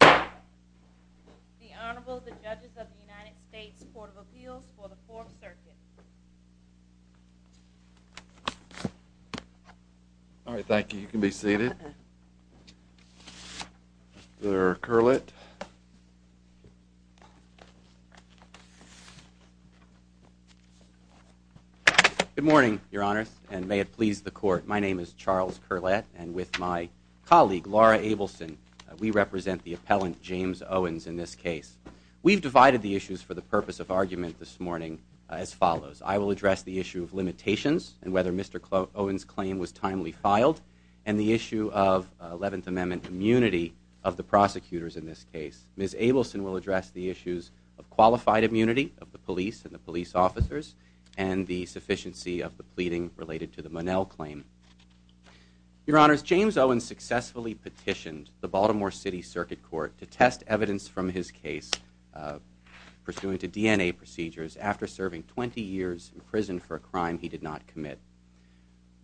The Honorable, the Judges of the United States Court of Appeals for the Fourth Circuit. All right, thank you. You can be seated. Mr. Curlett. Good morning, Your Honors, and may it please the Court. My name is Charles Curlett, and with my colleague, Laura Abelson, we represent the appellant, James Owens, in this case. We've divided the issues for the purpose of argument this morning as follows. I will address the issue of limitations and whether Mr. Owens' claim was timely filed, and the issue of Eleventh Amendment immunity of the prosecutors in this case. Ms. Abelson will address the issues of qualified immunity of the police and the police officers, and the sufficiency of the pleading related to the Monell claim. Your Honors, James Owens successfully petitioned the Baltimore City Circuit Court to test evidence from his case pursuant to DNA procedures after serving 20 years in prison for a crime he did not commit.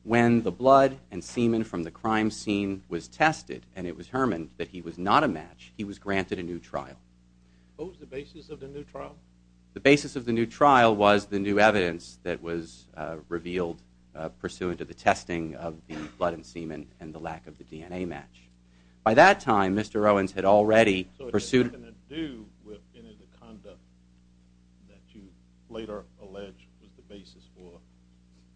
When the blood and semen from the crime scene was tested, and it was hermened that he was not a match, he was granted a new trial. What was the basis of the new trial? The basis of the new trial was the new evidence that was revealed pursuant to the testing of the blood and semen and the lack of the DNA match. By that time, Mr. Owens had already pursued... So it had nothing to do with any of the conduct that you later alleged was the basis for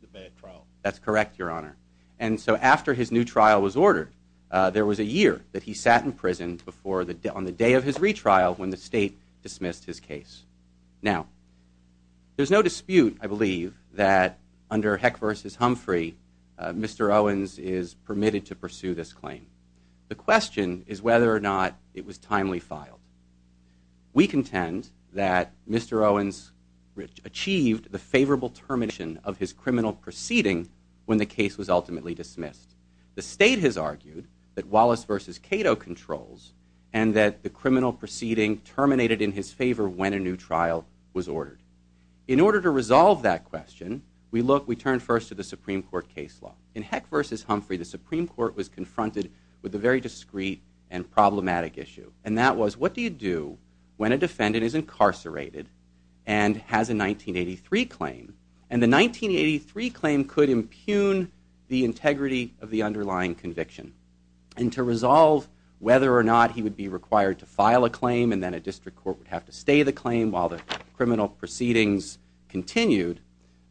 the bad trial. That's correct, Your Honor. And so after his new trial was ordered, there was a year that he sat in prison on the day of his retrial when the state dismissed his case. Now, there's no dispute, I believe, that under Heck v. Humphrey, Mr. Owens is permitted to pursue this claim. The question is whether or not it was timely filed. We contend that Mr. Owens achieved the favorable termination of his criminal proceeding when the case was ultimately dismissed. The state has argued that Wallace v. Cato controls and that the criminal proceeding terminated in his favor when a new trial was ordered. In order to resolve that question, we turned first to the Supreme Court case law. In Heck v. Humphrey, the Supreme Court was confronted with a very discreet and problematic issue. And that was, what do you do when a defendant is incarcerated and has a 1983 claim? And the 1983 claim could impugn the integrity of the underlying conviction. And to resolve whether or not he would be required to file a claim and then a district court would have to stay the claim while the criminal proceedings continued,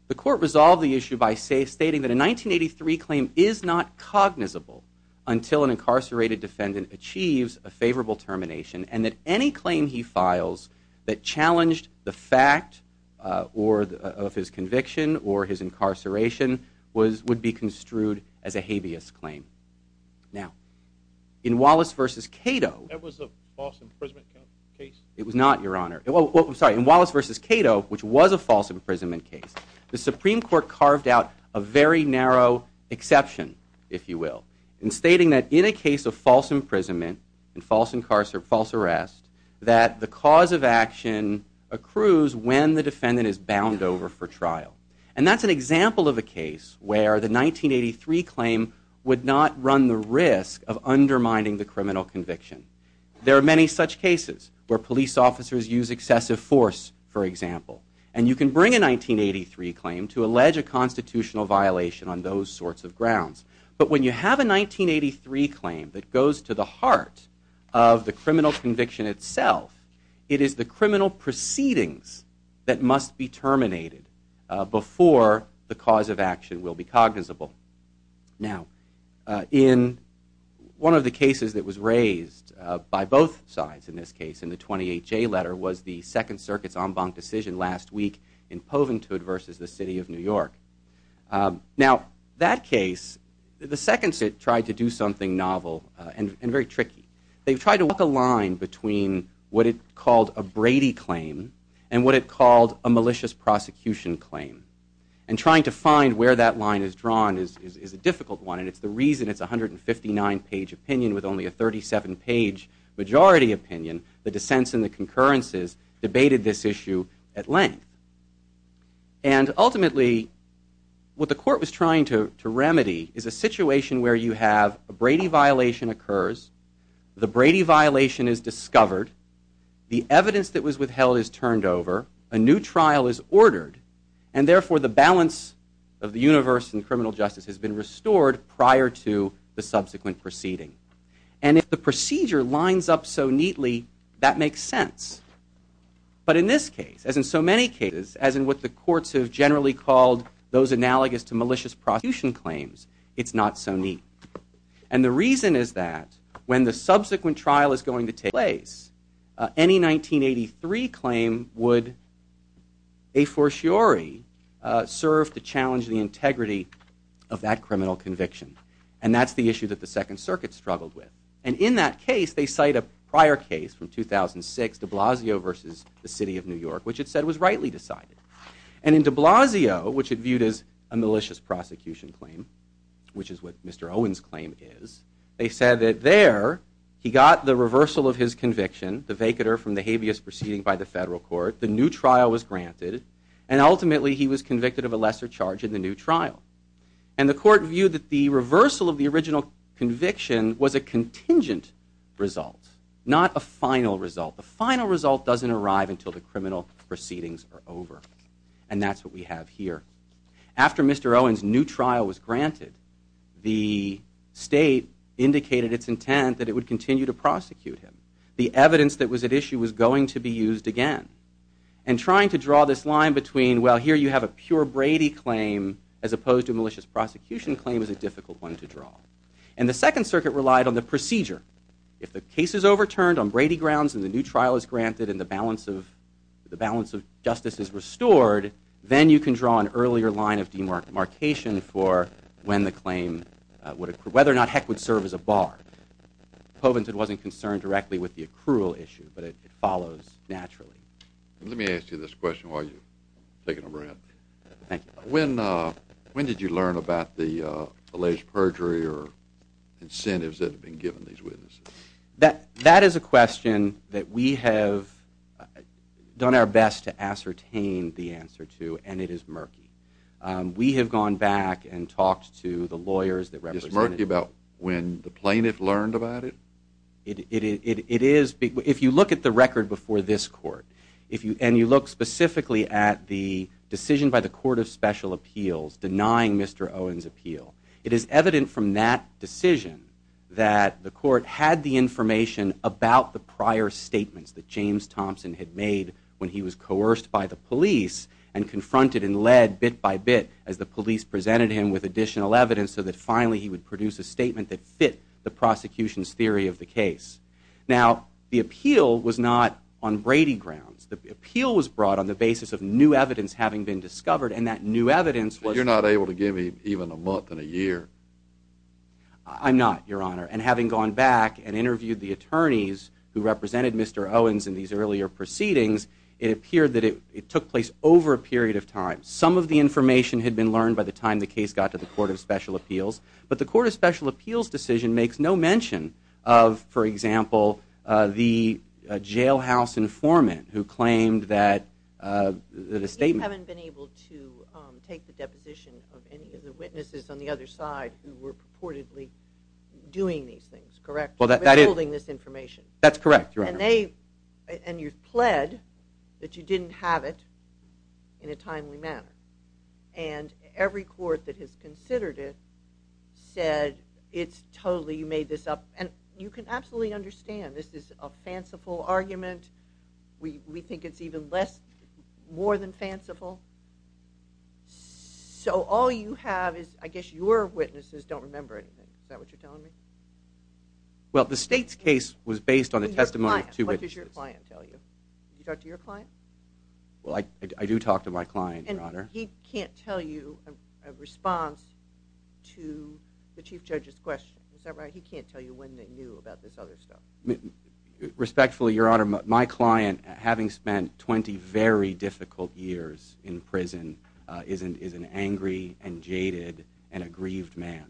the court resolved the issue by stating that a 1983 claim is not cognizable until an incarcerated defendant achieves a favorable termination and that any claim he files that challenged the fact of his conviction or his incarceration would be construed as a habeas claim. Now, in Wallace v. Cato, That was a false imprisonment case? It was not, Your Honor. I'm sorry, in Wallace v. Cato, which was a false imprisonment case, the Supreme Court carved out a very narrow exception, if you will, in stating that in a case of false imprisonment and false arrest, that the cause of action accrues when the defendant is bound over for trial. And that's an example of a case where the 1983 claim would not run the risk of undermining the criminal conviction. There are many such cases where police officers use excessive force, for example. And you can bring a 1983 claim to allege a constitutional violation on those sorts of grounds. But when you have a 1983 claim that goes to the heart of the criminal conviction itself, it is the criminal proceedings that must be terminated before the cause of action will be cognizable. Now, in one of the cases that was raised by both sides in this case, in the 28J letter, was the Second Circuit's en banc decision last week in Poventude v. the City of New York. Now, that case, the Second Circuit tried to do something novel and very tricky. They tried to walk a line between what it called a Brady claim and what it called a malicious prosecution claim. And trying to find where that line is drawn is a difficult one, and it's the reason it's a 159-page opinion with only a 37-page majority opinion. The dissents and the concurrences debated this issue at length. And ultimately, what the court was trying to remedy is a situation where you have a Brady violation occurs, the Brady violation is discovered, the evidence that was withheld is turned over, a new trial is ordered, and therefore the balance of the universe in criminal justice has been restored prior to the subsequent proceeding. And if the procedure lines up so neatly, that makes sense. But in this case, as in so many cases, as in what the courts have generally called those analogous to malicious prosecution claims, it's not so neat. And the reason is that when the subsequent trial is going to take place, any 1983 claim would, a fortiori, serve to challenge the integrity of that criminal conviction. And that's the issue that the Second Circuit struggled with. And in that case, they cite a prior case from 2006, de Blasio versus the City of New York, which it said was rightly decided. And in de Blasio, which it viewed as a malicious prosecution claim, which is what Mr. Owen's claim is, they said that there he got the reversal of his conviction, the vacater from the habeas proceeding by the federal court, the new trial was granted, and ultimately he was convicted of a lesser charge in the new trial. And the court viewed that the reversal of the original conviction was a contingent result, not a final result. The final result doesn't arrive until the criminal proceedings are over. And that's what we have here. After Mr. Owen's new trial was granted, the state indicated its intent that it would continue to prosecute him. The evidence that was at issue was going to be used again. And trying to draw this line between, well, here you have a pure Brady claim as opposed to a malicious prosecution claim is a difficult one to draw. And the Second Circuit relied on the procedure. If the case is overturned on Brady grounds and the new trial is granted and the balance of justice is restored, then you can draw an earlier line of demarcation for when the claim would accrue, whether or not Heck would serve as a bar. Povented wasn't concerned directly with the accrual issue, but it follows naturally. Let me ask you this question while you're taking a breath. Thank you. When did you learn about the alleged perjury or incentives that have been given to these witnesses? That is a question that we have done our best to ascertain the answer to, and it is murky. We have gone back and talked to the lawyers that represent it. Is it murky about when the plaintiff learned about it? It is. If you look at the record before this court, and you look specifically at the decision by the Court of Special Appeals denying Mr. Owen's appeal, it is evident from that decision that the court had the information about the prior statements that James Thompson had made when he was coerced by the police and confronted and led bit by bit as the police presented him with additional evidence so that finally he would produce a statement that fit the prosecution's theory of the case. Now, the appeal was not on Brady grounds. The appeal was brought on the basis of new evidence having been discovered, and that new evidence was... You're not able to give me even a month and a year. I'm not, Your Honor. And having gone back and interviewed the attorneys who represented Mr. Owens in these earlier proceedings, it appeared that it took place over a period of time. Some of the information had been learned by the time the case got to the Court of Special Appeals, but the Court of Special Appeals' decision makes no mention of, for example, the jailhouse informant who claimed that a statement... But you haven't been able to take the deposition of any of the witnesses on the other side who were purportedly doing these things, correct? Well, that is... Revealing this information. That's correct, Your Honor. And you've pled that you didn't have it in a timely manner. And every court that has considered it said, it's totally, you made this up. And you can absolutely understand this is a fanciful argument. We think it's even less, more than fanciful. So all you have is, I guess your witnesses don't remember anything. Is that what you're telling me? Well, the state's case was based on the testimony of two witnesses. What does your client tell you? Did you talk to your client? Well, I do talk to my client, Your Honor. He can't tell you a response to the Chief Judge's question. Is that right? He can't tell you when they knew about this other stuff. Respectfully, Your Honor, my client, having spent 20 very difficult years in prison, is an angry and jaded and aggrieved man.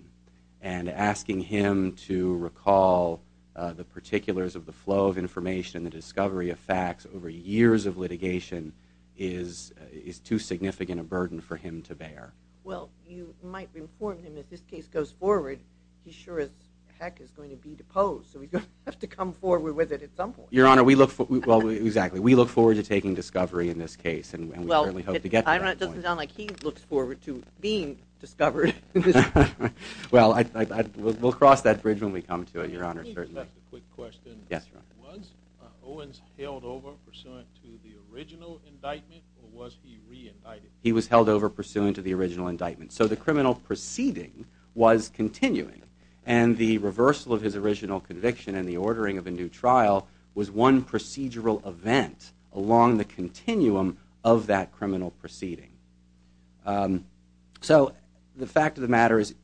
And asking him to recall the particulars of the flow of information, the discovery of facts over years of litigation is too significant a burden for him to bear. Well, you might inform him that if this case goes forward, he sure as heck is going to be deposed. So he's going to have to come forward with it at some point. Your Honor, we look forward to taking discovery in this case. And we certainly hope to get to that point. Well, it doesn't sound like he looks forward to being discovered. Well, we'll cross that bridge when we come to it, Your Honor. Let me just ask a quick question. Yes, Your Honor. Was Owens held over pursuant to the original indictment, or was he re-indicted? He was held over pursuant to the original indictment. So the criminal proceeding was continuing. And the reversal of his original conviction and the ordering of a new trial was one procedural event along the continuum of that criminal proceeding. So the fact of the matter is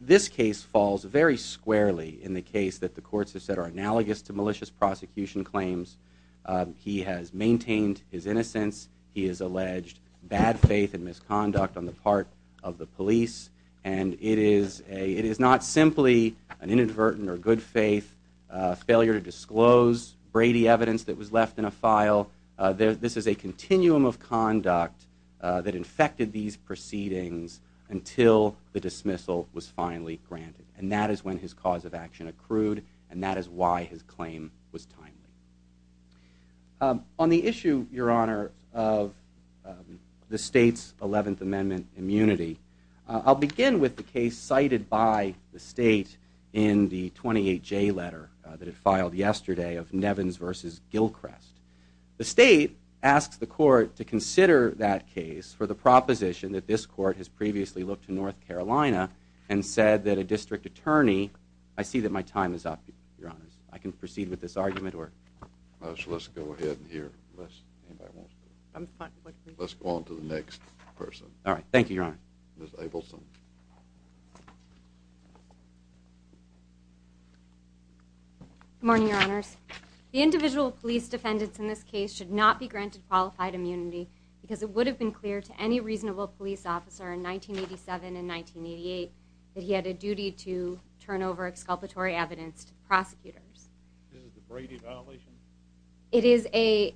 this case falls very squarely in the case that the courts have said are analogous to malicious prosecution claims. He has maintained his innocence. He has alleged bad faith and misconduct on the part of the police. And it is not simply an inadvertent or good faith, failure to disclose Brady evidence that was left in a file. This is a continuum of conduct that infected these proceedings until the dismissal was finally granted. And that is when his cause of action accrued, and that is why his claim was timely. On the issue, Your Honor, of the state's 11th Amendment immunity, I'll begin with the case cited by the state in the 28J letter that it filed yesterday of Nevins v. Gilchrest. The state asks the court to consider that case for the proposition that this court has previously looked to North Carolina and said that a district attorney... I see that my time is up, Your Honor. I can proceed with this argument or... Let's go ahead here. Let's go on to the next person. All right. Thank you, Your Honor. Ms. Abelson. Good morning, Your Honors. The individual police defendants in this case should not be granted qualified immunity because it would have been clear to any reasonable police officer in 1987 and 1988 that he had a duty to turn over exculpatory evidence to the prosecutors. Is it a Brady violation? It is a...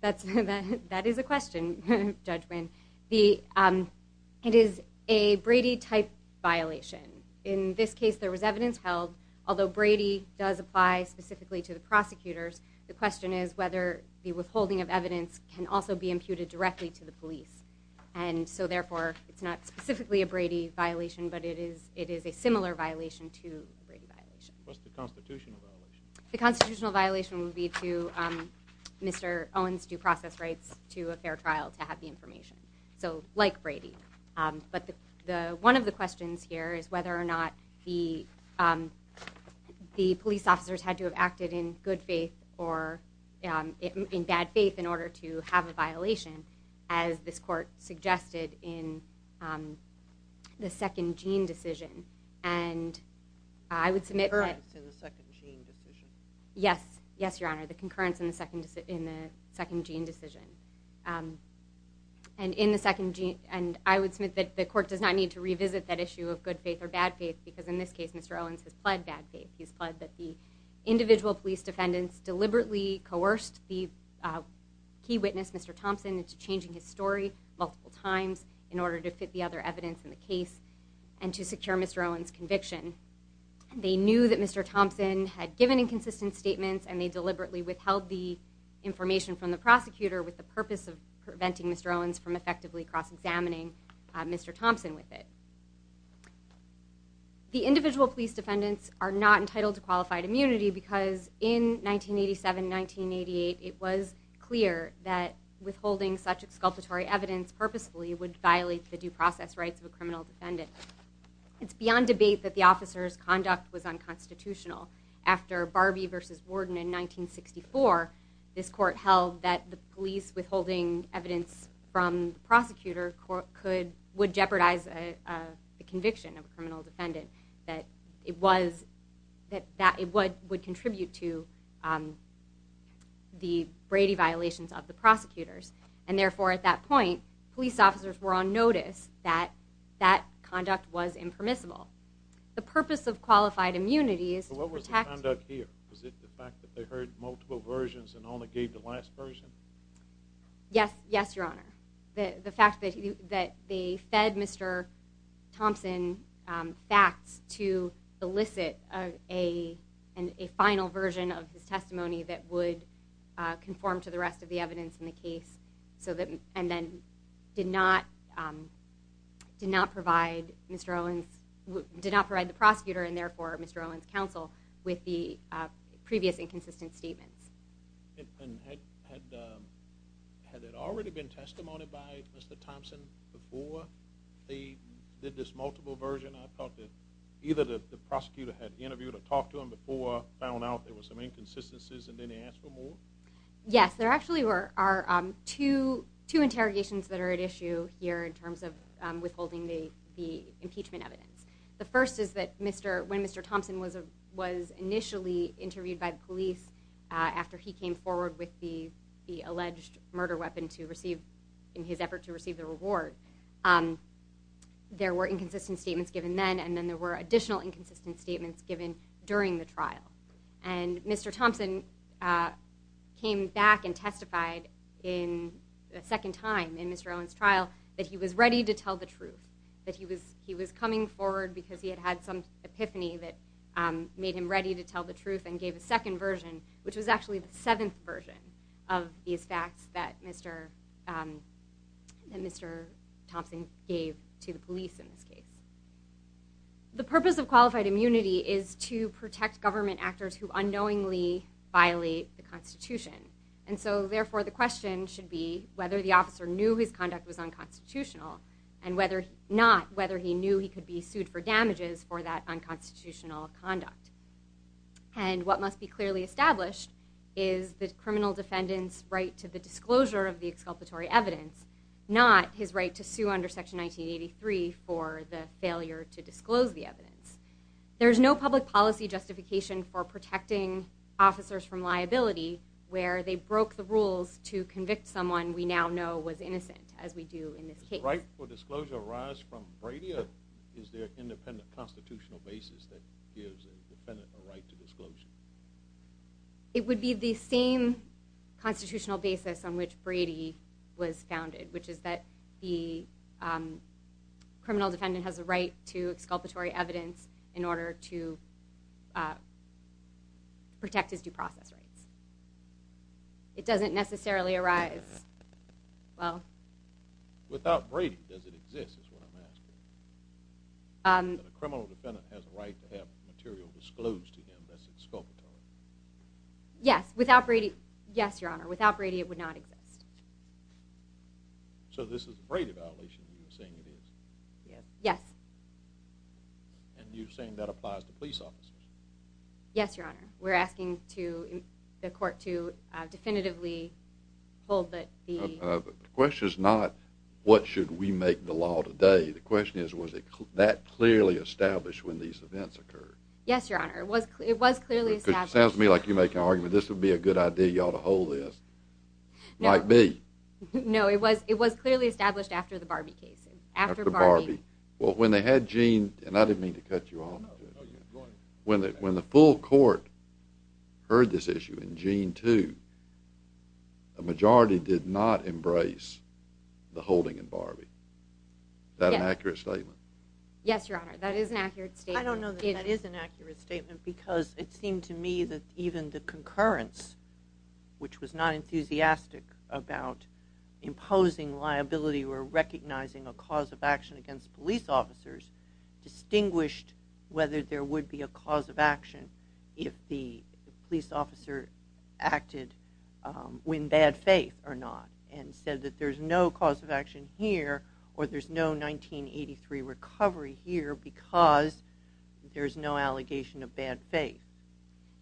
That is a question, Judge Winn. It is a Brady-type violation. In this case, there was evidence held. Although Brady does apply specifically to the prosecutors, the question is whether the withholding of evidence can also be imputed directly to the police. And so, therefore, it's not specifically a Brady violation, but it is a similar violation to a Brady violation. What's the constitutional violation? The constitutional violation would be to Mr. Owens' due process rights to a fair trial to have the information. So, like Brady. But one of the questions here is whether or not the police officers had to have acted in good faith or in bad faith in order to have a violation, as this court suggested in the second Jean decision. And I would submit that... The concurrence in the second Jean decision. Yes. Yes, Your Honor. The concurrence in the second Jean decision. And in the second Jean... And I would submit that the court does not need to revisit that issue of good faith or bad faith because in this case, Mr. Owens has pled bad faith. He's pled that the individual police defendants deliberately coerced the key witness, Mr. Thompson, into changing his story multiple times in order to fit the other evidence in the case and to secure Mr. Owens' conviction. They knew that Mr. Thompson had given inconsistent statements and they deliberately withheld the information from the prosecutor with the purpose of preventing Mr. Owens from effectively cross-examining Mr. Thompson with it. The individual police defendants are not entitled to qualified immunity because in 1987-1988, it was clear that withholding such exculpatory evidence purposefully would violate the due process rights of a criminal defendant. It's beyond debate that the officers' conduct was unconstitutional. After Barbie v. Warden in 1964, this court held that the police withholding evidence from the prosecutor would jeopardize the conviction of a criminal defendant, that it would contribute to the Brady violations of the prosecutors. And therefore, at that point, police officers were on notice that that conduct was impermissible. The purpose of qualified immunity is to protect... So what was the conduct here? Was it the fact that they heard multiple versions and only gave the last version? Yes, Your Honor. The fact that they fed Mr. Thompson facts to elicit a final version of his testimony that would conform to the rest of the evidence in the case and then did not provide the prosecutor and therefore Mr. Owens' counsel with the previous inconsistent statements. And had it already been testimonied by Mr. Thompson before they did this multiple version? I thought that either the prosecutor had interviewed or talked to him before, found out there were some inconsistencies, and then he asked for more? Yes, there actually are two interrogations that are at issue here in terms of withholding the impeachment evidence. The first is that when Mr. Thompson was initially interviewed by the police after he came forward with the alleged murder weapon in his effort to receive the reward, there were inconsistent statements given then, and then there were additional inconsistent statements given during the trial. And Mr. Thompson came back and testified a second time in Mr. Owens' trial that he was ready to tell the truth, that he was coming forward because he had had some epiphany that made him ready to tell the truth and gave a second version, which was actually the seventh version of these facts that Mr. Thompson gave to the police in this case. The purpose of qualified immunity is to protect government actors who unknowingly violate the Constitution. And so therefore the question should be whether the officer knew his conduct was unconstitutional and not whether he knew he could be sued for damages for that unconstitutional conduct. And what must be clearly established is the criminal defendant's right to the disclosure of the exculpatory evidence, not his right to sue under Section 1983 for the failure to disclose the evidence. There's no public policy justification for protecting officers from liability where they broke the rules to convict someone we now know was innocent, as we do in this case. Does the right for disclosure arise from Brady, or is there an independent constitutional basis that gives the defendant a right to disclosure? It would be the same constitutional basis on which Brady was founded, which is that the criminal defendant has a right to exculpatory evidence in order to protect his due process rights. It doesn't necessarily arise, well… Without Brady, does it exist, is what I'm asking? That a criminal defendant has a right to have material disclosed to him that's exculpatory? Yes. Without Brady, yes, Your Honor. Without Brady, it would not exist. So this is a Brady violation that you're saying it is? Yes. And you're saying that applies to police officers? Yes, Your Honor. We're asking the court to definitively hold that the… The question is not, what should we make the law today? The question is, was that clearly established when these events occurred? Yes, Your Honor. It was clearly established. It sounds to me like you're making an argument, this would be a good idea, you ought to hold this. Might be. No, it was clearly established after the Barbie case. After Barbie. Well, when they had Gene, and I didn't mean to cut you off, when the full court heard this issue in Gene 2, a majority did not embrace the holding in Barbie. Is that an accurate statement? Yes, Your Honor. That is an accurate statement. I don't know that that is an accurate statement, because it seemed to me that even the concurrence, which was not enthusiastic about imposing liability or recognizing a cause of action against police officers, distinguished whether there would be a cause of action if the police officer acted in bad faith or not and said that there's no cause of action here or there's no 1983 recovery here because there's no allegation of bad faith.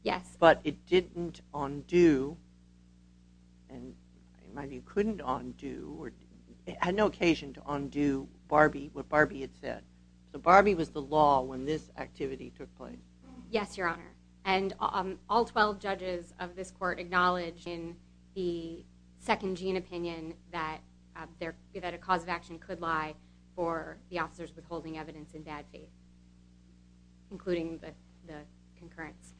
Yes. But it didn't undo, and maybe it couldn't undo, it had no occasion to undo what Barbie had said. So Barbie was the law when this activity took place. Yes, Your Honor. And all 12 judges of this court acknowledged in the second Gene opinion that a cause of action could lie for the officers withholding evidence in bad faith, including the concurrence.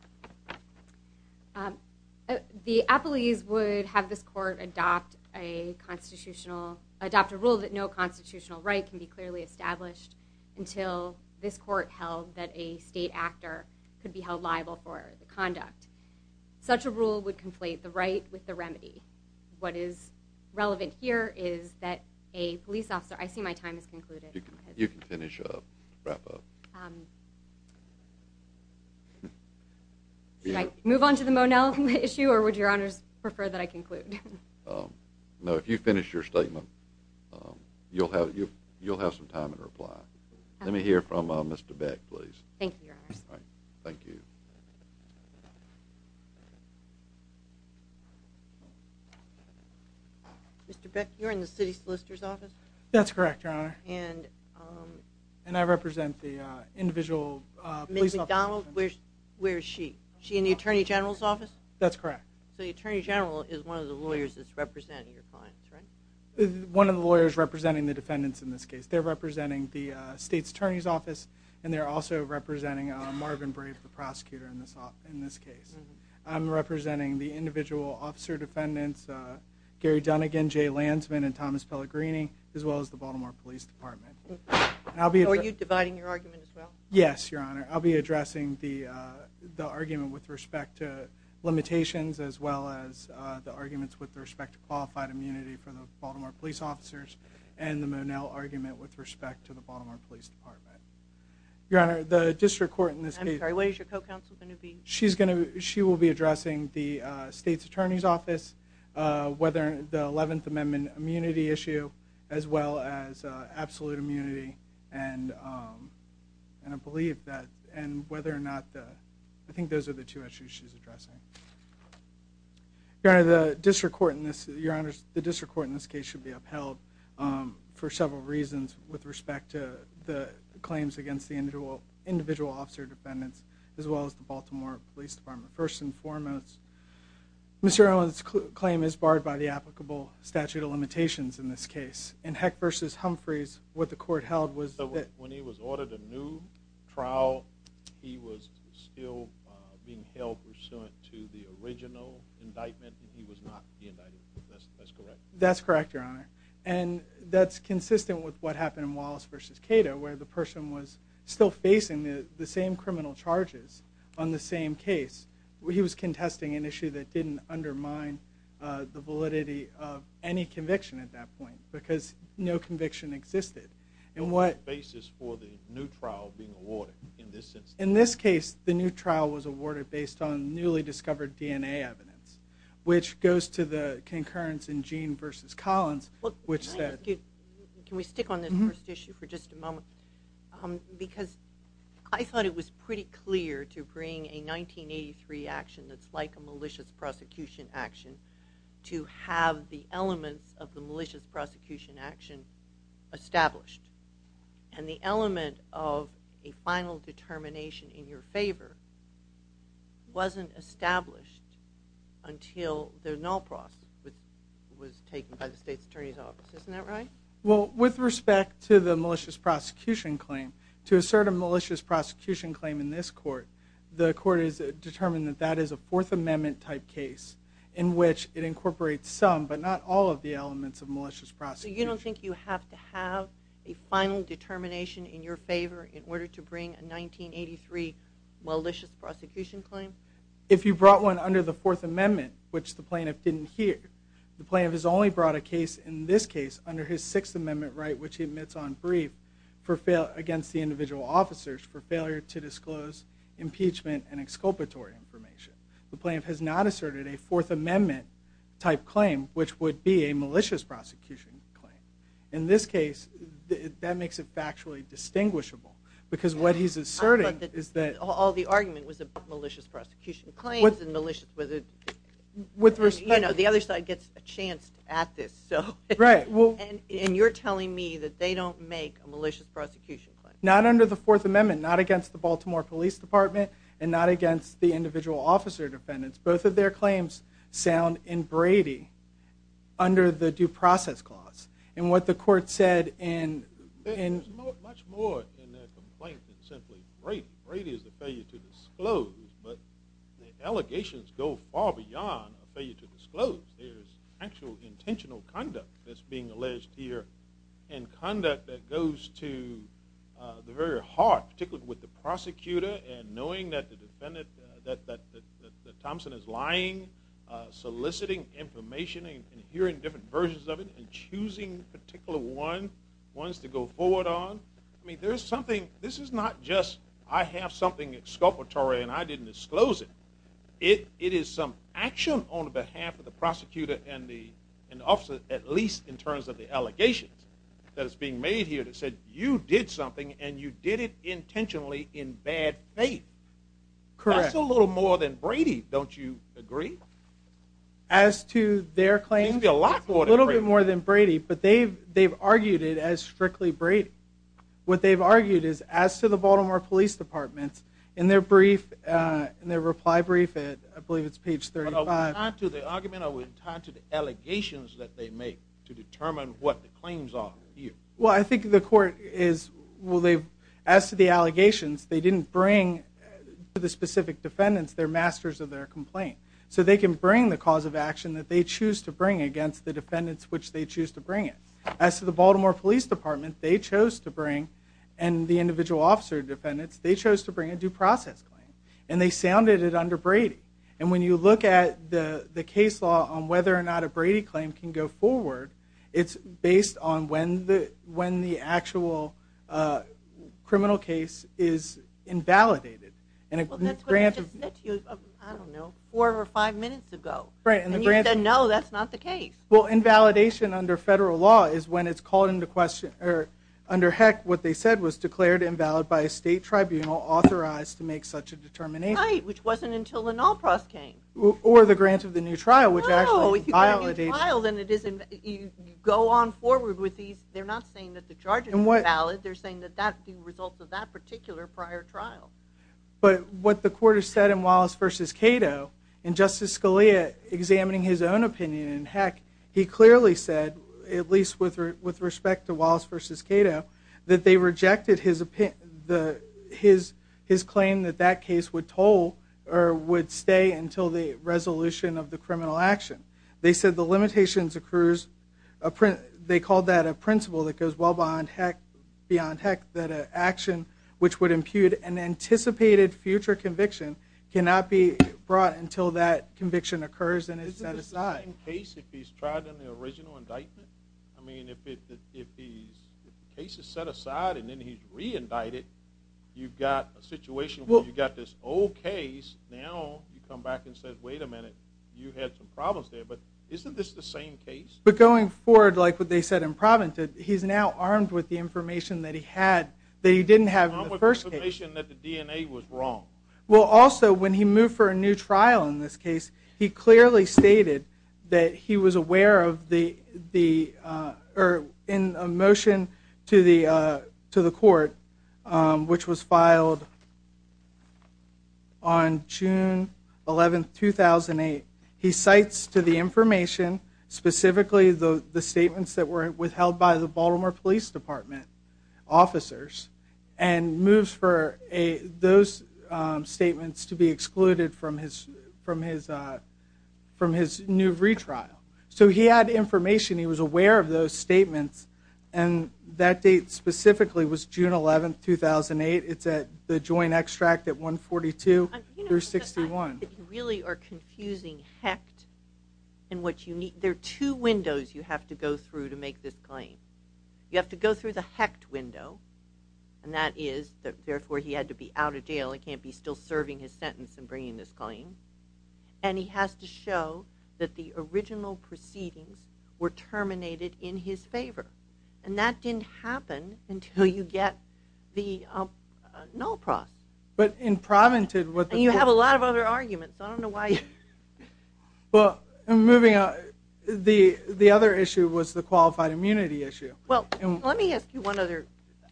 The appellees would have this court adopt a constitutional, adopt a rule that no constitutional right can be clearly established until this court held that a state actor could be held liable for the conduct. What is relevant here is that a police officer, I see my time has concluded. You can finish up, wrap up. Should I move on to the Monell issue or would Your Honors prefer that I conclude? No, if you finish your statement, you'll have some time in reply. Let me hear from Mr. Beck, please. Thank you, Your Honors. Thank you. Mr. Beck, you're in the city solicitor's office? That's correct, Your Honor. And I represent the individual police officer. Ms. McDonald, where is she? Is she in the attorney general's office? That's correct. So the attorney general is one of the lawyers that's representing your clients, right? One of the lawyers representing the defendants in this case. They're representing the state's attorney's office, and they're also representing Marvin Brave, the prosecutor in this case. I'm representing the individual officer defendants, Gary Dunnigan, Jay Lansman, and Thomas Pellegrini, as well as the Baltimore Police Department. Are you dividing your argument as well? Yes, Your Honor. I'll be addressing the argument with respect to limitations as well as the arguments with respect to qualified immunity for the Baltimore police officers and the Monell argument with respect to the Baltimore Police Department. Your Honor, the district court in this case. I'm sorry, what is your co-counsel going to be? She will be addressing the state's attorney's office, the Eleventh Amendment immunity issue, as well as absolute immunity, and I think those are the two issues she's addressing. Your Honor, the district court in this case should be upheld for several reasons with respect to the claims against the individual officer defendants as well as the Baltimore Police Department. First and foremost, Mr. Earle's claim is barred by the applicable statute of limitations in this case. In Heck v. Humphreys, what the court held was that When he was ordered a new trial, he was still being held pursuant to the original indictment, and he was not being indicted. That's correct. That's correct, Your Honor. And that's consistent with what happened in Wallace v. Cato where the person was still facing the same criminal charges on the same case. He was contesting an issue that didn't undermine the validity of any conviction at that point because no conviction existed. What was the basis for the new trial being awarded in this instance? In this case, the new trial was awarded based on newly discovered DNA evidence, which goes to the concurrence in Gene v. Collins, which said Can we stick on this first issue for just a moment? Because I thought it was pretty clear to bring a 1983 action that's like a malicious prosecution action to have the elements of the malicious prosecution action established. And the element of a final determination in your favor wasn't established until the null process was taken by the state's attorney's office. Isn't that right? Well, with respect to the malicious prosecution claim, to assert a malicious prosecution claim in this court, the court has determined that that is a Fourth Amendment-type case in which it incorporates some but not all of the elements of malicious prosecution. So you don't think you have to have a final determination in your favor in order to bring a 1983 malicious prosecution claim? If you brought one under the Fourth Amendment, which the plaintiff didn't hear. The plaintiff has only brought a case in this case under his Sixth Amendment right, which he admits on brief against the individual officers for failure to disclose impeachment and exculpatory information. The plaintiff has not asserted a Fourth Amendment-type claim, which would be a malicious prosecution claim. In this case, that makes it factually distinguishable because what he's asserting is that... All the argument was about malicious prosecution claims and malicious... With respect... You know, the other side gets a chance at this. Right. And you're telling me that they don't make a malicious prosecution claim. Not under the Fourth Amendment, not against the Baltimore Police Department, and not against the individual officer defendants. Both of their claims sound in Brady under the Due Process Clause. And what the court said in... There's much more in their complaint than simply Brady. Brady is the failure to disclose, but the allegations go far beyond a failure to disclose. There's actual intentional conduct that's being alleged here and conduct that goes to the very heart, particularly with the prosecutor and knowing that the defendant, that Thompson is lying, soliciting information and hearing different versions of it and choosing a particular one, ones to go forward on. I mean, there's something... This is not just, I have something exculpatory and I didn't disclose it. It is some action on behalf of the prosecutor and the officer, at least in terms of the allegations that is being made here that said you did something and you did it intentionally in bad faith. Correct. That's a little more than Brady, don't you agree? As to their claims? A little bit more than Brady, but they've argued it as strictly Brady. What they've argued is as to the Baltimore Police Department, in their reply brief, I believe it's page 35... Are we tied to the argument or are we tied to the allegations that they make to determine what the claims are here? Well, I think the court is... Well, as to the allegations, they didn't bring to the specific defendants their masters of their complaint. So they can bring the cause of action that they choose to bring against the defendants which they choose to bring it. As to the Baltimore Police Department, they chose to bring, and the individual officer defendants, they chose to bring a due process claim. And they sounded it under Brady. And when you look at the case law on whether or not a Brady claim can go forward, it's based on when the actual criminal case is invalidated. Well, that's what they just said to you, I don't know, four or five minutes ago. And you said, no, that's not the case. Well, invalidation under federal law is when it's called into question, or under heck, what they said was declared invalid by a state tribunal authorized to make such a determination. Right, which wasn't until the null process came. Or the grant of the new trial, which actually invalidated... No, if you go on forward with these, they're not saying that the charges are valid. They're saying that that's the result of that particular prior trial. But what the court has said in Wallace v. Cato, in Justice Scalia examining his own opinion in heck, he clearly said, at least with respect to Wallace v. Cato, that they rejected his claim that that case would stay until the resolution of the criminal action. They said the limitations occurs... They called that a principle that goes well beyond heck, that an action which would impute an anticipated future conviction cannot be brought until that conviction occurs and is set aside. Isn't it the same case if he's tried in the original indictment? I mean, if the case is set aside and then he's re-indicted, you've got a situation where you've got this old case, now you come back and say, wait a minute, you had some problems there. But isn't this the same case? But going forward, like what they said in Provincet, he's now armed with the information that he had, that he didn't have in the first case. Armed with information that the DNA was wrong. Well, also, when he moved for a new trial in this case, he clearly stated that he was aware of the... or in a motion to the court, which was filed on June 11, 2008, he cites to the information, specifically the statements that were withheld by the Baltimore Police Department officers, and moves for those statements to be excluded from his new retrial. So he had information, he was aware of those statements, and that date specifically was June 11, 2008. It's at the joint extract at 142 through 61. You really are confusing Hecht and what you need. There are two windows you have to go through to make this claim. You have to go through the Hecht window, and that is, therefore, he had to be out of jail, he can't be still serving his sentence and bringing this claim, and he has to show that the original proceedings were terminated in his favor. And that didn't happen until you get the null process. But in Provincet, what the court... You have a lot of other arguments. I don't know why you... Well, moving on, the other issue was the qualified immunity issue. Well, let me ask you one other.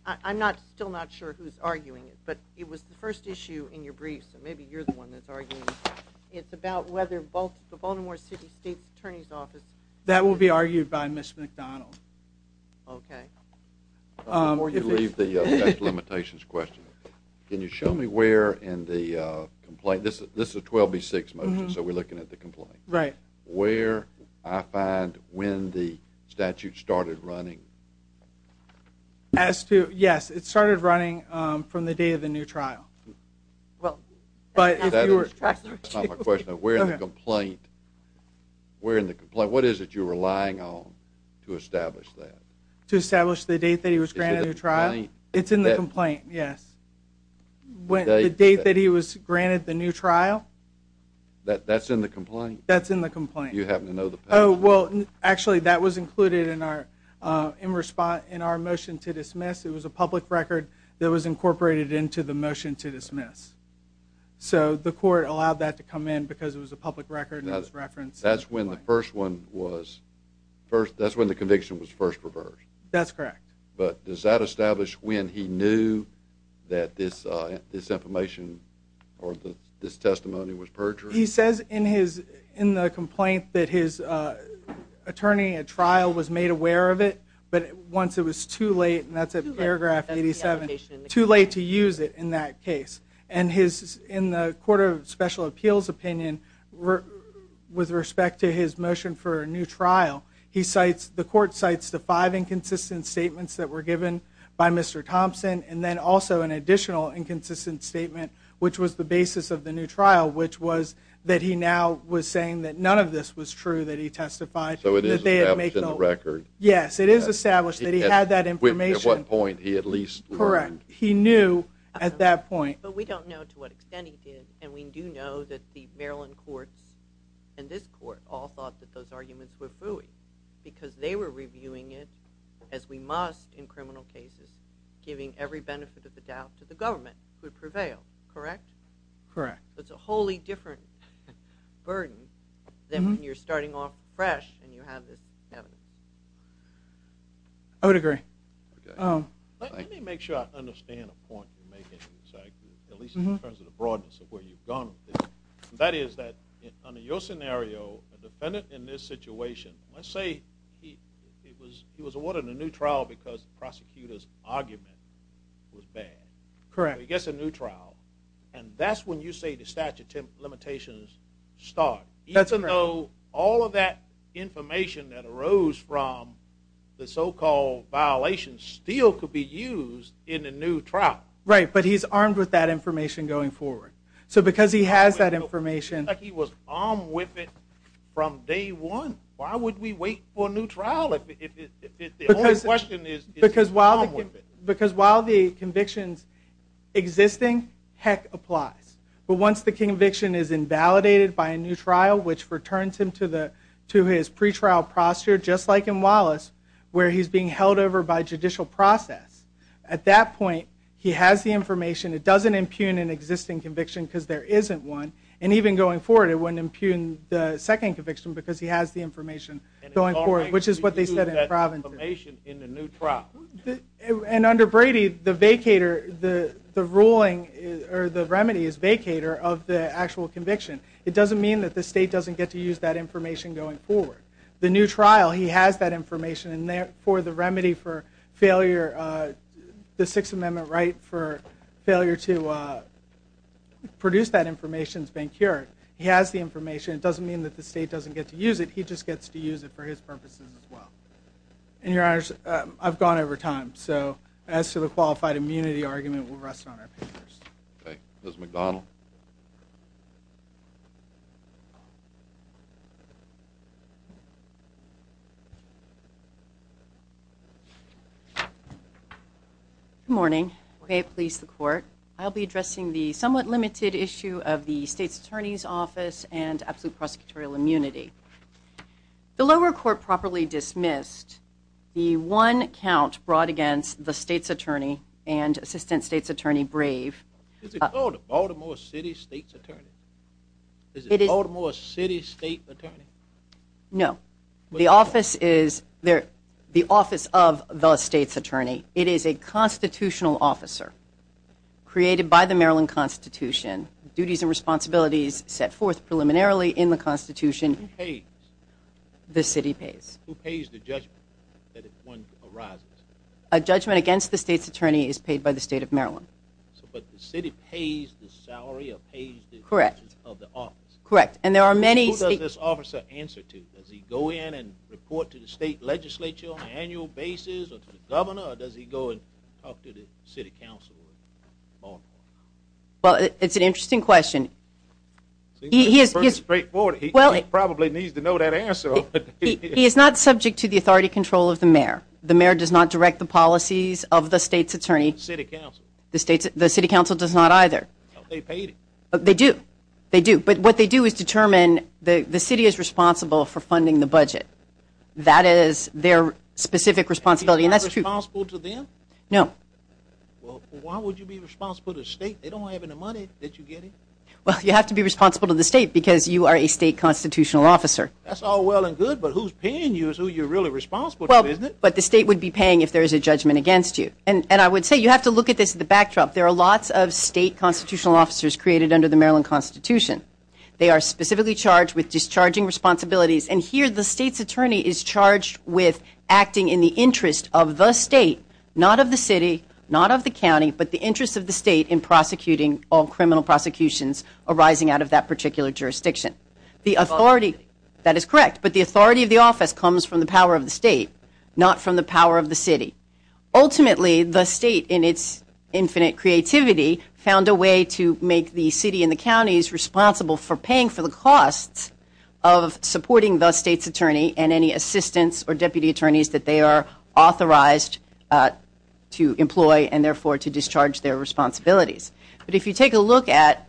I'm still not sure who's arguing it, but it was the first issue in your brief, so maybe you're the one that's arguing it. It's about whether both the Baltimore City State Attorney's Office... That will be argued by Ms. McDonald. Okay. Before you leave the limitations question, can you show me where in the complaint... This is a 12B6 motion, so we're looking at the complaint. Right. Where I find when the statute started running. As to... Yes, it started running from the day of the new trial. Well... That's not my question. Where in the complaint... Where in the complaint... What is it you're relying on to establish that? To establish the date that he was granted a new trial? It's in the complaint, yes. The date that he was granted the new trial? That's in the complaint? That's in the complaint. You happen to know the... Oh, well, actually, that was included in our motion to dismiss. It was a public record that was incorporated into the motion to dismiss. So the court allowed that to come in because it was a public record and it was referenced. That's when the first one was... That's when the conviction was first reversed. That's correct. But does that establish when he knew that this information or this testimony was perjured? He says in the complaint that his attorney at trial was made aware of it, but once it was too late, and that's at paragraph 87, too late to use it in that case. And in the Court of Special Appeals opinion, with respect to his motion for a new trial, the court cites the five inconsistent statements that were given by Mr. Thompson and then also an additional inconsistent statement, which was the basis of the new trial, which was that he now was saying that none of this was true, that he testified. So it is established in the record? Yes, it is established that he had that information. At what point he at least learned? Correct. He knew at that point. But we don't know to what extent he did, and we do know that the Maryland courts and this court all thought that those arguments were fooey because they were reviewing it as we must in criminal cases, giving every benefit of the doubt to the government to prevail, correct? Correct. That's a wholly different burden than when you're starting off fresh and you have this evidence. I would agree. Let me make sure I understand a point you're making, at least in terms of the broadness of where you've gone with this. That is that under your scenario, a defendant in this situation, let's say he was awarded a new trial because the prosecutor's argument was bad. Correct. He gets a new trial, and that's when you say the statute of limitations start, even though all of that information that arose from the so-called violation still could be used in a new trial. Right, but he's armed with that information going forward. So because he has that information... He was armed with it from day one. Why would we wait for a new trial if the only question is he's armed with it? Because while the conviction's existing, heck applies. But once the conviction is invalidated by a new trial, which returns him to his pretrial prostitute, just like in Wallace, where he's being held over by judicial process, at that point he has the information. It doesn't impugn an existing conviction because there isn't one, and even going forward it wouldn't impugn the second conviction because he has the information going forward, which is what they said in Providence. And it's already impugned that information in the new trial. And under Brady, the vacator, the ruling, or the remedy, is vacator of the actual conviction. It doesn't mean that the state doesn't get to use that information going forward. The new trial, he has that information, and therefore the remedy for failure, the Sixth Amendment right for failure to produce that information is being cured. He has the information. It doesn't mean that the state doesn't get to use it. He just gets to use it for his purposes as well. And, Your Honors, I've gone over time. So as to the qualified immunity argument, we'll rest it on our papers. Okay. Ms. McDonald? Good morning. Okay, please, the Court. I'll be addressing the somewhat limited issue of the State's Attorney's Office and absolute prosecutorial immunity. The lower court properly dismissed the one count brought against the State's Attorney and Assistant State's Attorney, Brave. Is it called a Baltimore City State's Attorney? Is it Baltimore City State's Attorney? No. The office is the office of the State's Attorney. It is a constitutional officer created by the Maryland Constitution. Duties and responsibilities set forth preliminarily in the Constitution. Who pays? The city pays. Who pays the judgment that one arises? A judgment against the State's Attorney is paid by the State of Maryland. But the city pays the salary or pays the duties of the office? Correct. Who does this officer answer to? Does he go in and report to the state legislature on an annual basis or to the governor, or does he go and talk to the city council? Well, it's an interesting question. It seems pretty straightforward. He probably needs to know that answer. He is not subject to the authority control of the mayor. The mayor does not direct the policies of the State's Attorney. The city council. The city council does not either. They paid him. They do. They do. But what they do is determine the city is responsible for funding the budget. That is their specific responsibility. And that's true. Are you responsible to them? No. Well, why would you be responsible to the state? They don't have any money that you get in. Well, you have to be responsible to the state because you are a state constitutional officer. That's all well and good, but who's paying you is who you're really responsible to, isn't it? But the state would be paying if there is a judgment against you. And I would say you have to look at this in the backdrop. There are lots of state constitutional officers created under the Maryland Constitution. They are specifically charged with discharging responsibilities, and here the State's Attorney is charged with acting in the interest of the state, not of the city, not of the county, but the interest of the state in prosecuting all criminal prosecutions arising out of that particular jurisdiction. The authority, that is correct, but the authority of the office comes from the power of the state, not from the power of the city. Ultimately, the state, in its infinite creativity, found a way to make the city and the counties responsible for paying for the costs of supporting the State's Attorney and any assistants or deputy attorneys that they are authorized to employ and therefore to discharge their responsibilities. But if you take a look at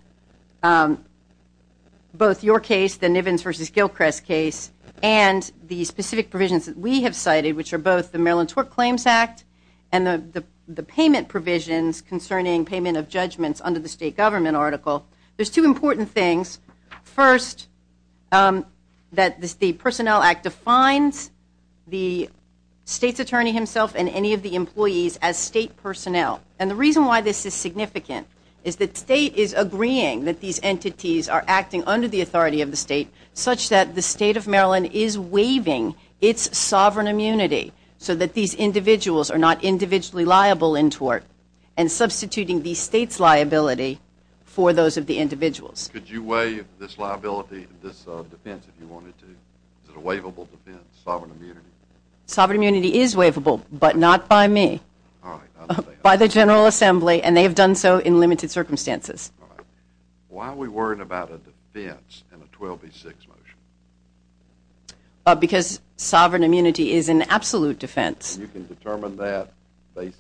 both your case, the Nivens v. Gilchrist case, and the specific provisions that we have cited, which are both the Maryland Tort Claims Act and the payment provisions concerning payment of judgments under the state government article, there are two important things. First, that the Personnel Act defines the State's Attorney himself and any of the employees as state personnel. And the reason why this is significant is that state is agreeing that these entities are acting under the authority of the state such that the State of Maryland is waiving its sovereign immunity so that these individuals are not individually liable in tort and substituting the State's liability for those of the individuals. Could you waive this liability, this defense, if you wanted to? Is it a waivable defense, sovereign immunity? Sovereign immunity is waivable, but not by me. All right. By the General Assembly, and they have done so in limited circumstances. All right. Why are we worried about a defense in a 12B6 motion? Because sovereign immunity is an absolute defense. You can determine that based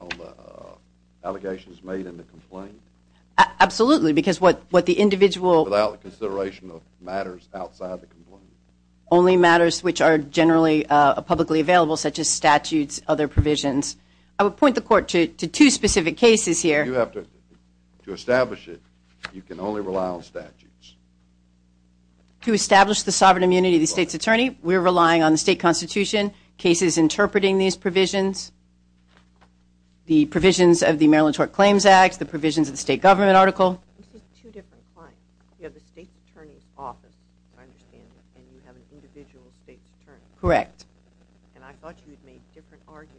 on the allegations made in the complaint? Absolutely, because what the individual Without consideration of matters outside the complaint? Only matters which are generally publicly available, such as statutes, other provisions. I would point the Court to two specific cases here. You have to establish it. You can only rely on statutes. To establish the sovereign immunity of the State's attorney, we're relying on the state constitution, cases interpreting these provisions, the provisions of the Maryland Tort Claims Act, the provisions of the state government article. This is two different claims. You have the State's attorney's office, I understand, and you have an individual State's attorney. Correct. And I thought you had made different arguments.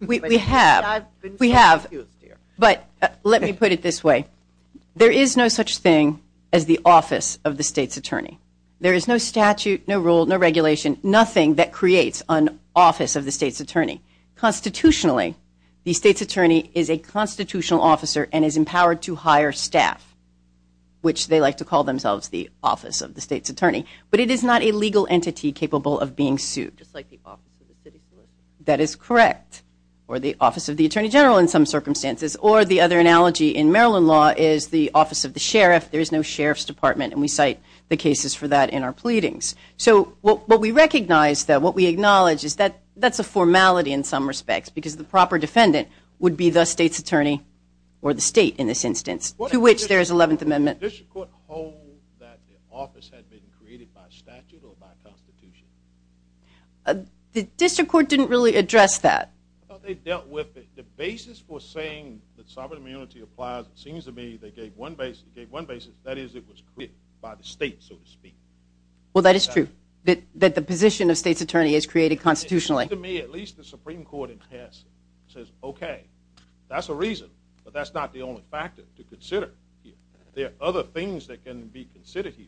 We have, but let me put it this way. There is no such thing as the office of the State's attorney. There is no statute, no rule, no regulation, nothing that creates an office of the State's attorney. Constitutionally, the State's attorney is a constitutional officer and is empowered to hire staff, which they like to call themselves the office of the State's attorney. But it is not a legal entity capable of being sued. Just like the office of the city solicitor. That is correct. Or the office of the attorney general in some circumstances. Or the other analogy in Maryland law is the office of the sheriff. There is no sheriff's department, and we cite the cases for that in our pleadings. So what we recognize, though, what we acknowledge, is that that's a formality in some respects because the proper defendant would be the State's attorney or the State in this instance, to which there is 11th Amendment. Did the district court hold that the office had been created by statute or by Constitution? The district court didn't really address that. I thought they dealt with it. The basis for saying that sovereign immunity applies, it seems to me they gave one basis. That is, it was created by the State, so to speak. Well, that is true. That the position of State's attorney is created constitutionally. To me, at least the Supreme Court in passing says, okay, that's a reason, but that's not the only factor to consider. There are other things that can be considered here.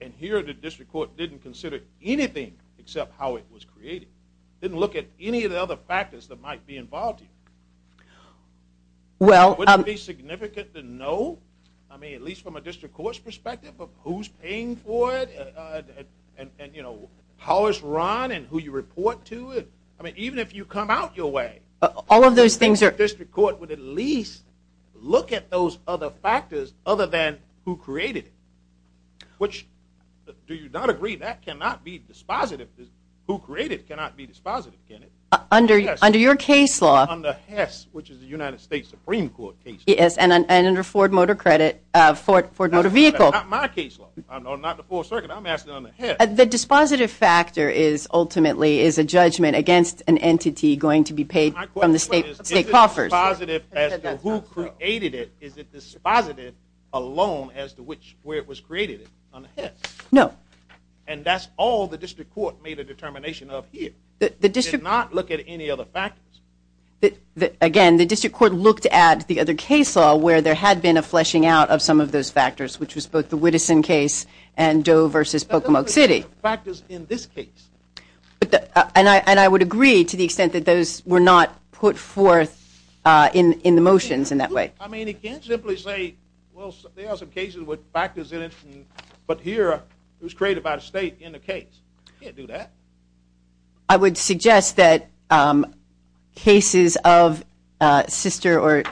And here, the district court didn't consider anything except how it was created. It didn't look at any of the other factors that might be involved here. Well... Wouldn't it be significant to know, I mean, at least from a district court's perspective, of who's paying for it and, you know, how it's run and who you report to? I mean, even if you come out your way... All of those things are... other than who created it. Which, do you not agree, that cannot be dispositive. Who created it cannot be dispositive, can it? Under your case law... Under HESS, which is the United States Supreme Court case law. Yes, and under Ford Motor Credit, Ford Motor Vehicle. That's not my case law. I'm not the 4th Circuit. I'm asking under HESS. The dispositive factor is, ultimately, is a judgment against an entity going to be paid from the State coffers. Is it dispositive as to who created it? Is it dispositive alone as to where it was created? Under HESS. No. And that's all the district court made a determination of here. It did not look at any other factors. Again, the district court looked at the other case law where there had been a fleshing out of some of those factors, which was both the Whitteson case and Doe v. Pocomoke City. But those are the factors in this case. And I would agree to the extent that those were not put forth in the motions in that way. I mean, you can't simply say, well, there are some cases with factors in it, but here it was created by the State in the case. You can't do that. I would suggest that cases of sister or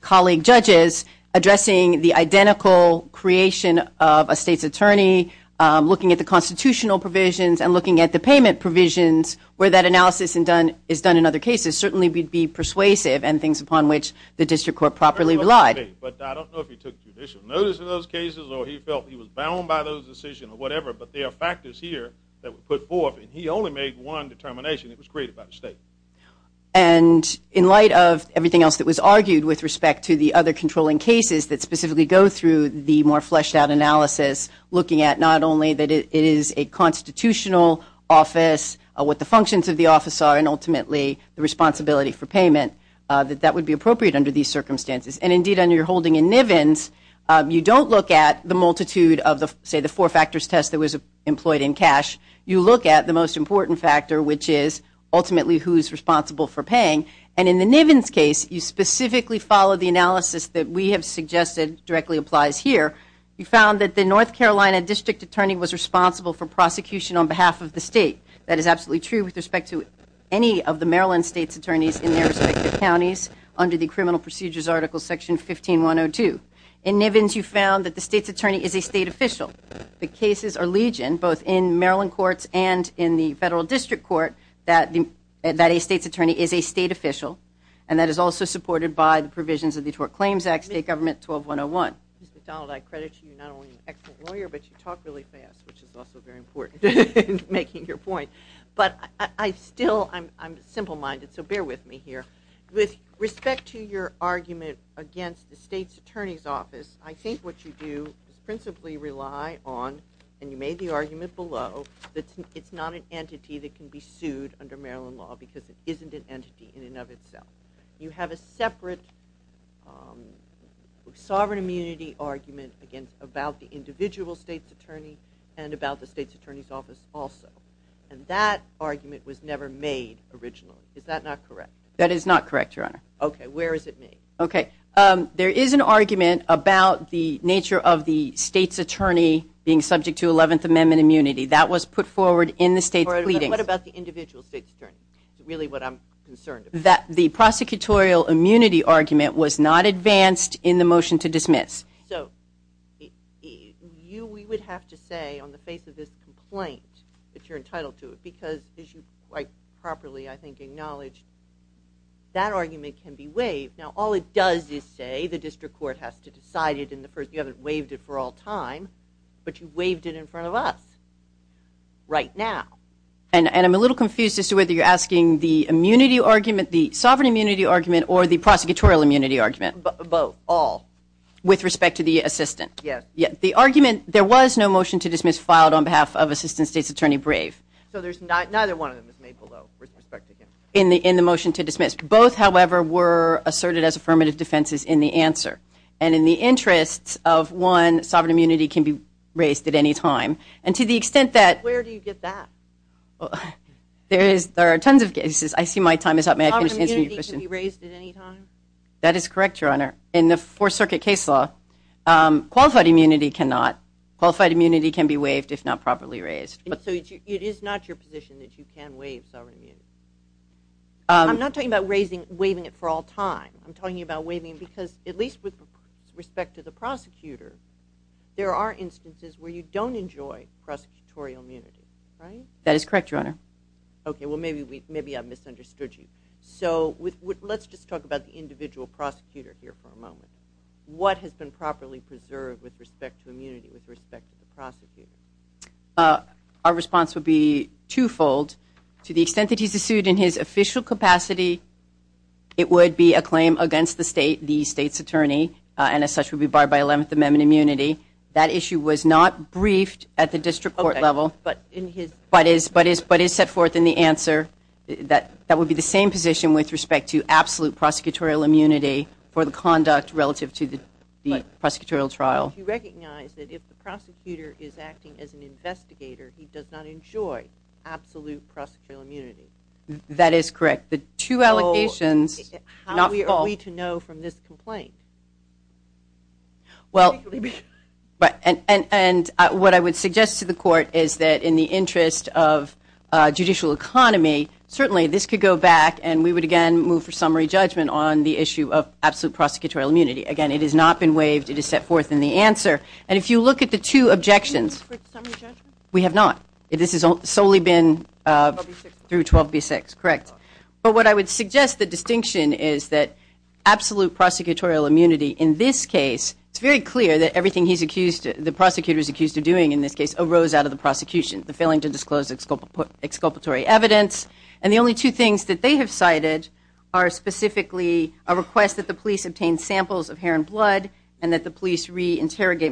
colleague judges addressing the identical creation of a State's attorney, looking at the constitutional provisions, and looking at the payment provisions where that analysis is done in other cases certainly would be persuasive and things upon which the district court properly relied. But I don't know if he took judicial notice in those cases or he felt he was bound by those decisions or whatever, but there are factors here that were put forth, and he only made one determination that was created by the State. And in light of everything else that was argued with respect to the other controlling cases that specifically go through the more fleshed-out analysis, looking at not only that it is a constitutional office, what the functions of the office are, and ultimately the responsibility for payment, that that would be appropriate under these circumstances. And indeed, under your holding in Nivens, you don't look at the multitude of, say, the four factors test that was employed in cash. You look at the most important factor, which is ultimately who is responsible for paying. And in the Nivens case, you specifically follow the analysis that we have suggested directly applies here. You found that the North Carolina district attorney was responsible for prosecution on behalf of the State. That is absolutely true with respect to any of the Maryland State's attorneys in their respective counties under the Criminal Procedures Article Section 15-102. In Nivens, you found that the State's attorney is a State official. The cases are legion, both in Maryland courts and in the Federal District Court, that a State's attorney is a State official, and that is also supported by the provisions of the Tort Claims Act, State Government 12-101. Mr. Donald, I credit you not only as an excellent lawyer, but you talk really fast, which is also very important in making your point. But I still am simple-minded, so bear with me here. With respect to your argument against the State's attorney's office, I think what you do is principally rely on, and you made the argument below, that it's not an entity that can be sued under Maryland law because it isn't an entity in and of itself. You have a separate sovereign immunity argument about the individual State's attorney and about the State's attorney's office also, and that argument was never made originally. Is that not correct? That is not correct, Your Honor. Okay, where is it made? Okay, there is an argument about the nature of the State's attorney being subject to 11th Amendment immunity. That was put forward in the State's pleadings. What about the individual State's attorney? That's really what I'm concerned about. The prosecutorial immunity argument was not advanced in the motion to dismiss. So we would have to say on the face of this complaint that you're entitled to it because, as you quite properly, I think, acknowledged, that argument can be waived. Now, all it does is say the district court has to decide it in the first place. You haven't waived it for all time, but you waived it in front of us right now. And I'm a little confused as to whether you're asking the immunity argument, the sovereign immunity argument, or the prosecutorial immunity argument. Both, all. With respect to the assistant? Yes. The argument, there was no motion to dismiss filed on behalf of Assistant State's Attorney Brave. So there's not, neither one of them was made below with respect to him. In the motion to dismiss. Both, however, were asserted as affirmative defenses in the answer. And in the interests of one, sovereign immunity can be raised at any time. And to the extent that- Where do you get that? There are tons of cases. I see my time is up. May I finish answering your question? Sovereign immunity can be raised at any time? That is correct, Your Honor. In the Fourth Circuit case law, qualified immunity cannot. Qualified immunity can be waived if not properly raised. So it is not your position that you can waive sovereign immunity? I'm not talking about raising, waiving it for all time. I'm talking about waiving because at least with respect to the prosecutor, there are instances where you don't enjoy prosecutorial immunity, right? That is correct, Your Honor. Okay, well maybe I've misunderstood you. So let's just talk about the individual prosecutor here for a moment. What has been properly preserved with respect to immunity with respect to the prosecutor? Our response would be twofold. To the extent that he's sued in his official capacity, it would be a claim against the state, the state's attorney, and as such would be barred by Eleventh Amendment immunity. That issue was not briefed at the district court level but is set forth in the answer. That would be the same position with respect to absolute prosecutorial immunity for the conduct relative to the prosecutorial trial. But you recognize that if the prosecutor is acting as an investigator, he does not enjoy absolute prosecutorial immunity. That is correct. The two allegations are not false. How are we to know from this complaint? And what I would suggest to the court is that in the interest of judicial economy, certainly this could go back and we would again move for summary judgment on the issue of absolute prosecutorial immunity. Again, it has not been waived. It is set forth in the answer. And if you look at the two objections, we have not. This has solely been through 12B6. Correct. But what I would suggest the distinction is that absolute prosecutorial immunity in this case, it's very clear that everything the prosecutor is accused of doing in this case arose out of the prosecution, the failing to disclose exculpatory evidence. And the only two things that they have cited are specifically a request that the police re-interrogate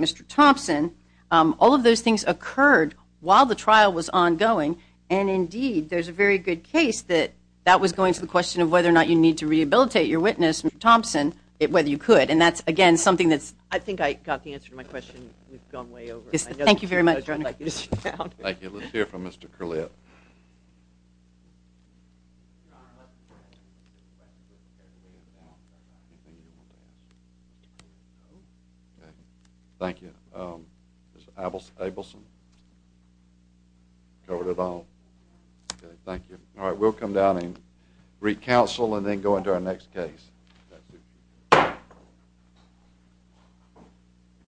Mr. Thompson. All of those things occurred while the trial was ongoing. And, indeed, there's a very good case that that was going to the question of whether or not you need to rehabilitate your witness, Mr. Thompson, whether you could. And that's, again, something that's – I think I got the answer to my question. We've gone way over. Thank you very much. Thank you. Let's hear from Mr. Curlett. Thank you. Mr. Abelson. Governor O'Donnell. Thank you. All right, we'll come down and re-counsel and then go into our next case. That's it.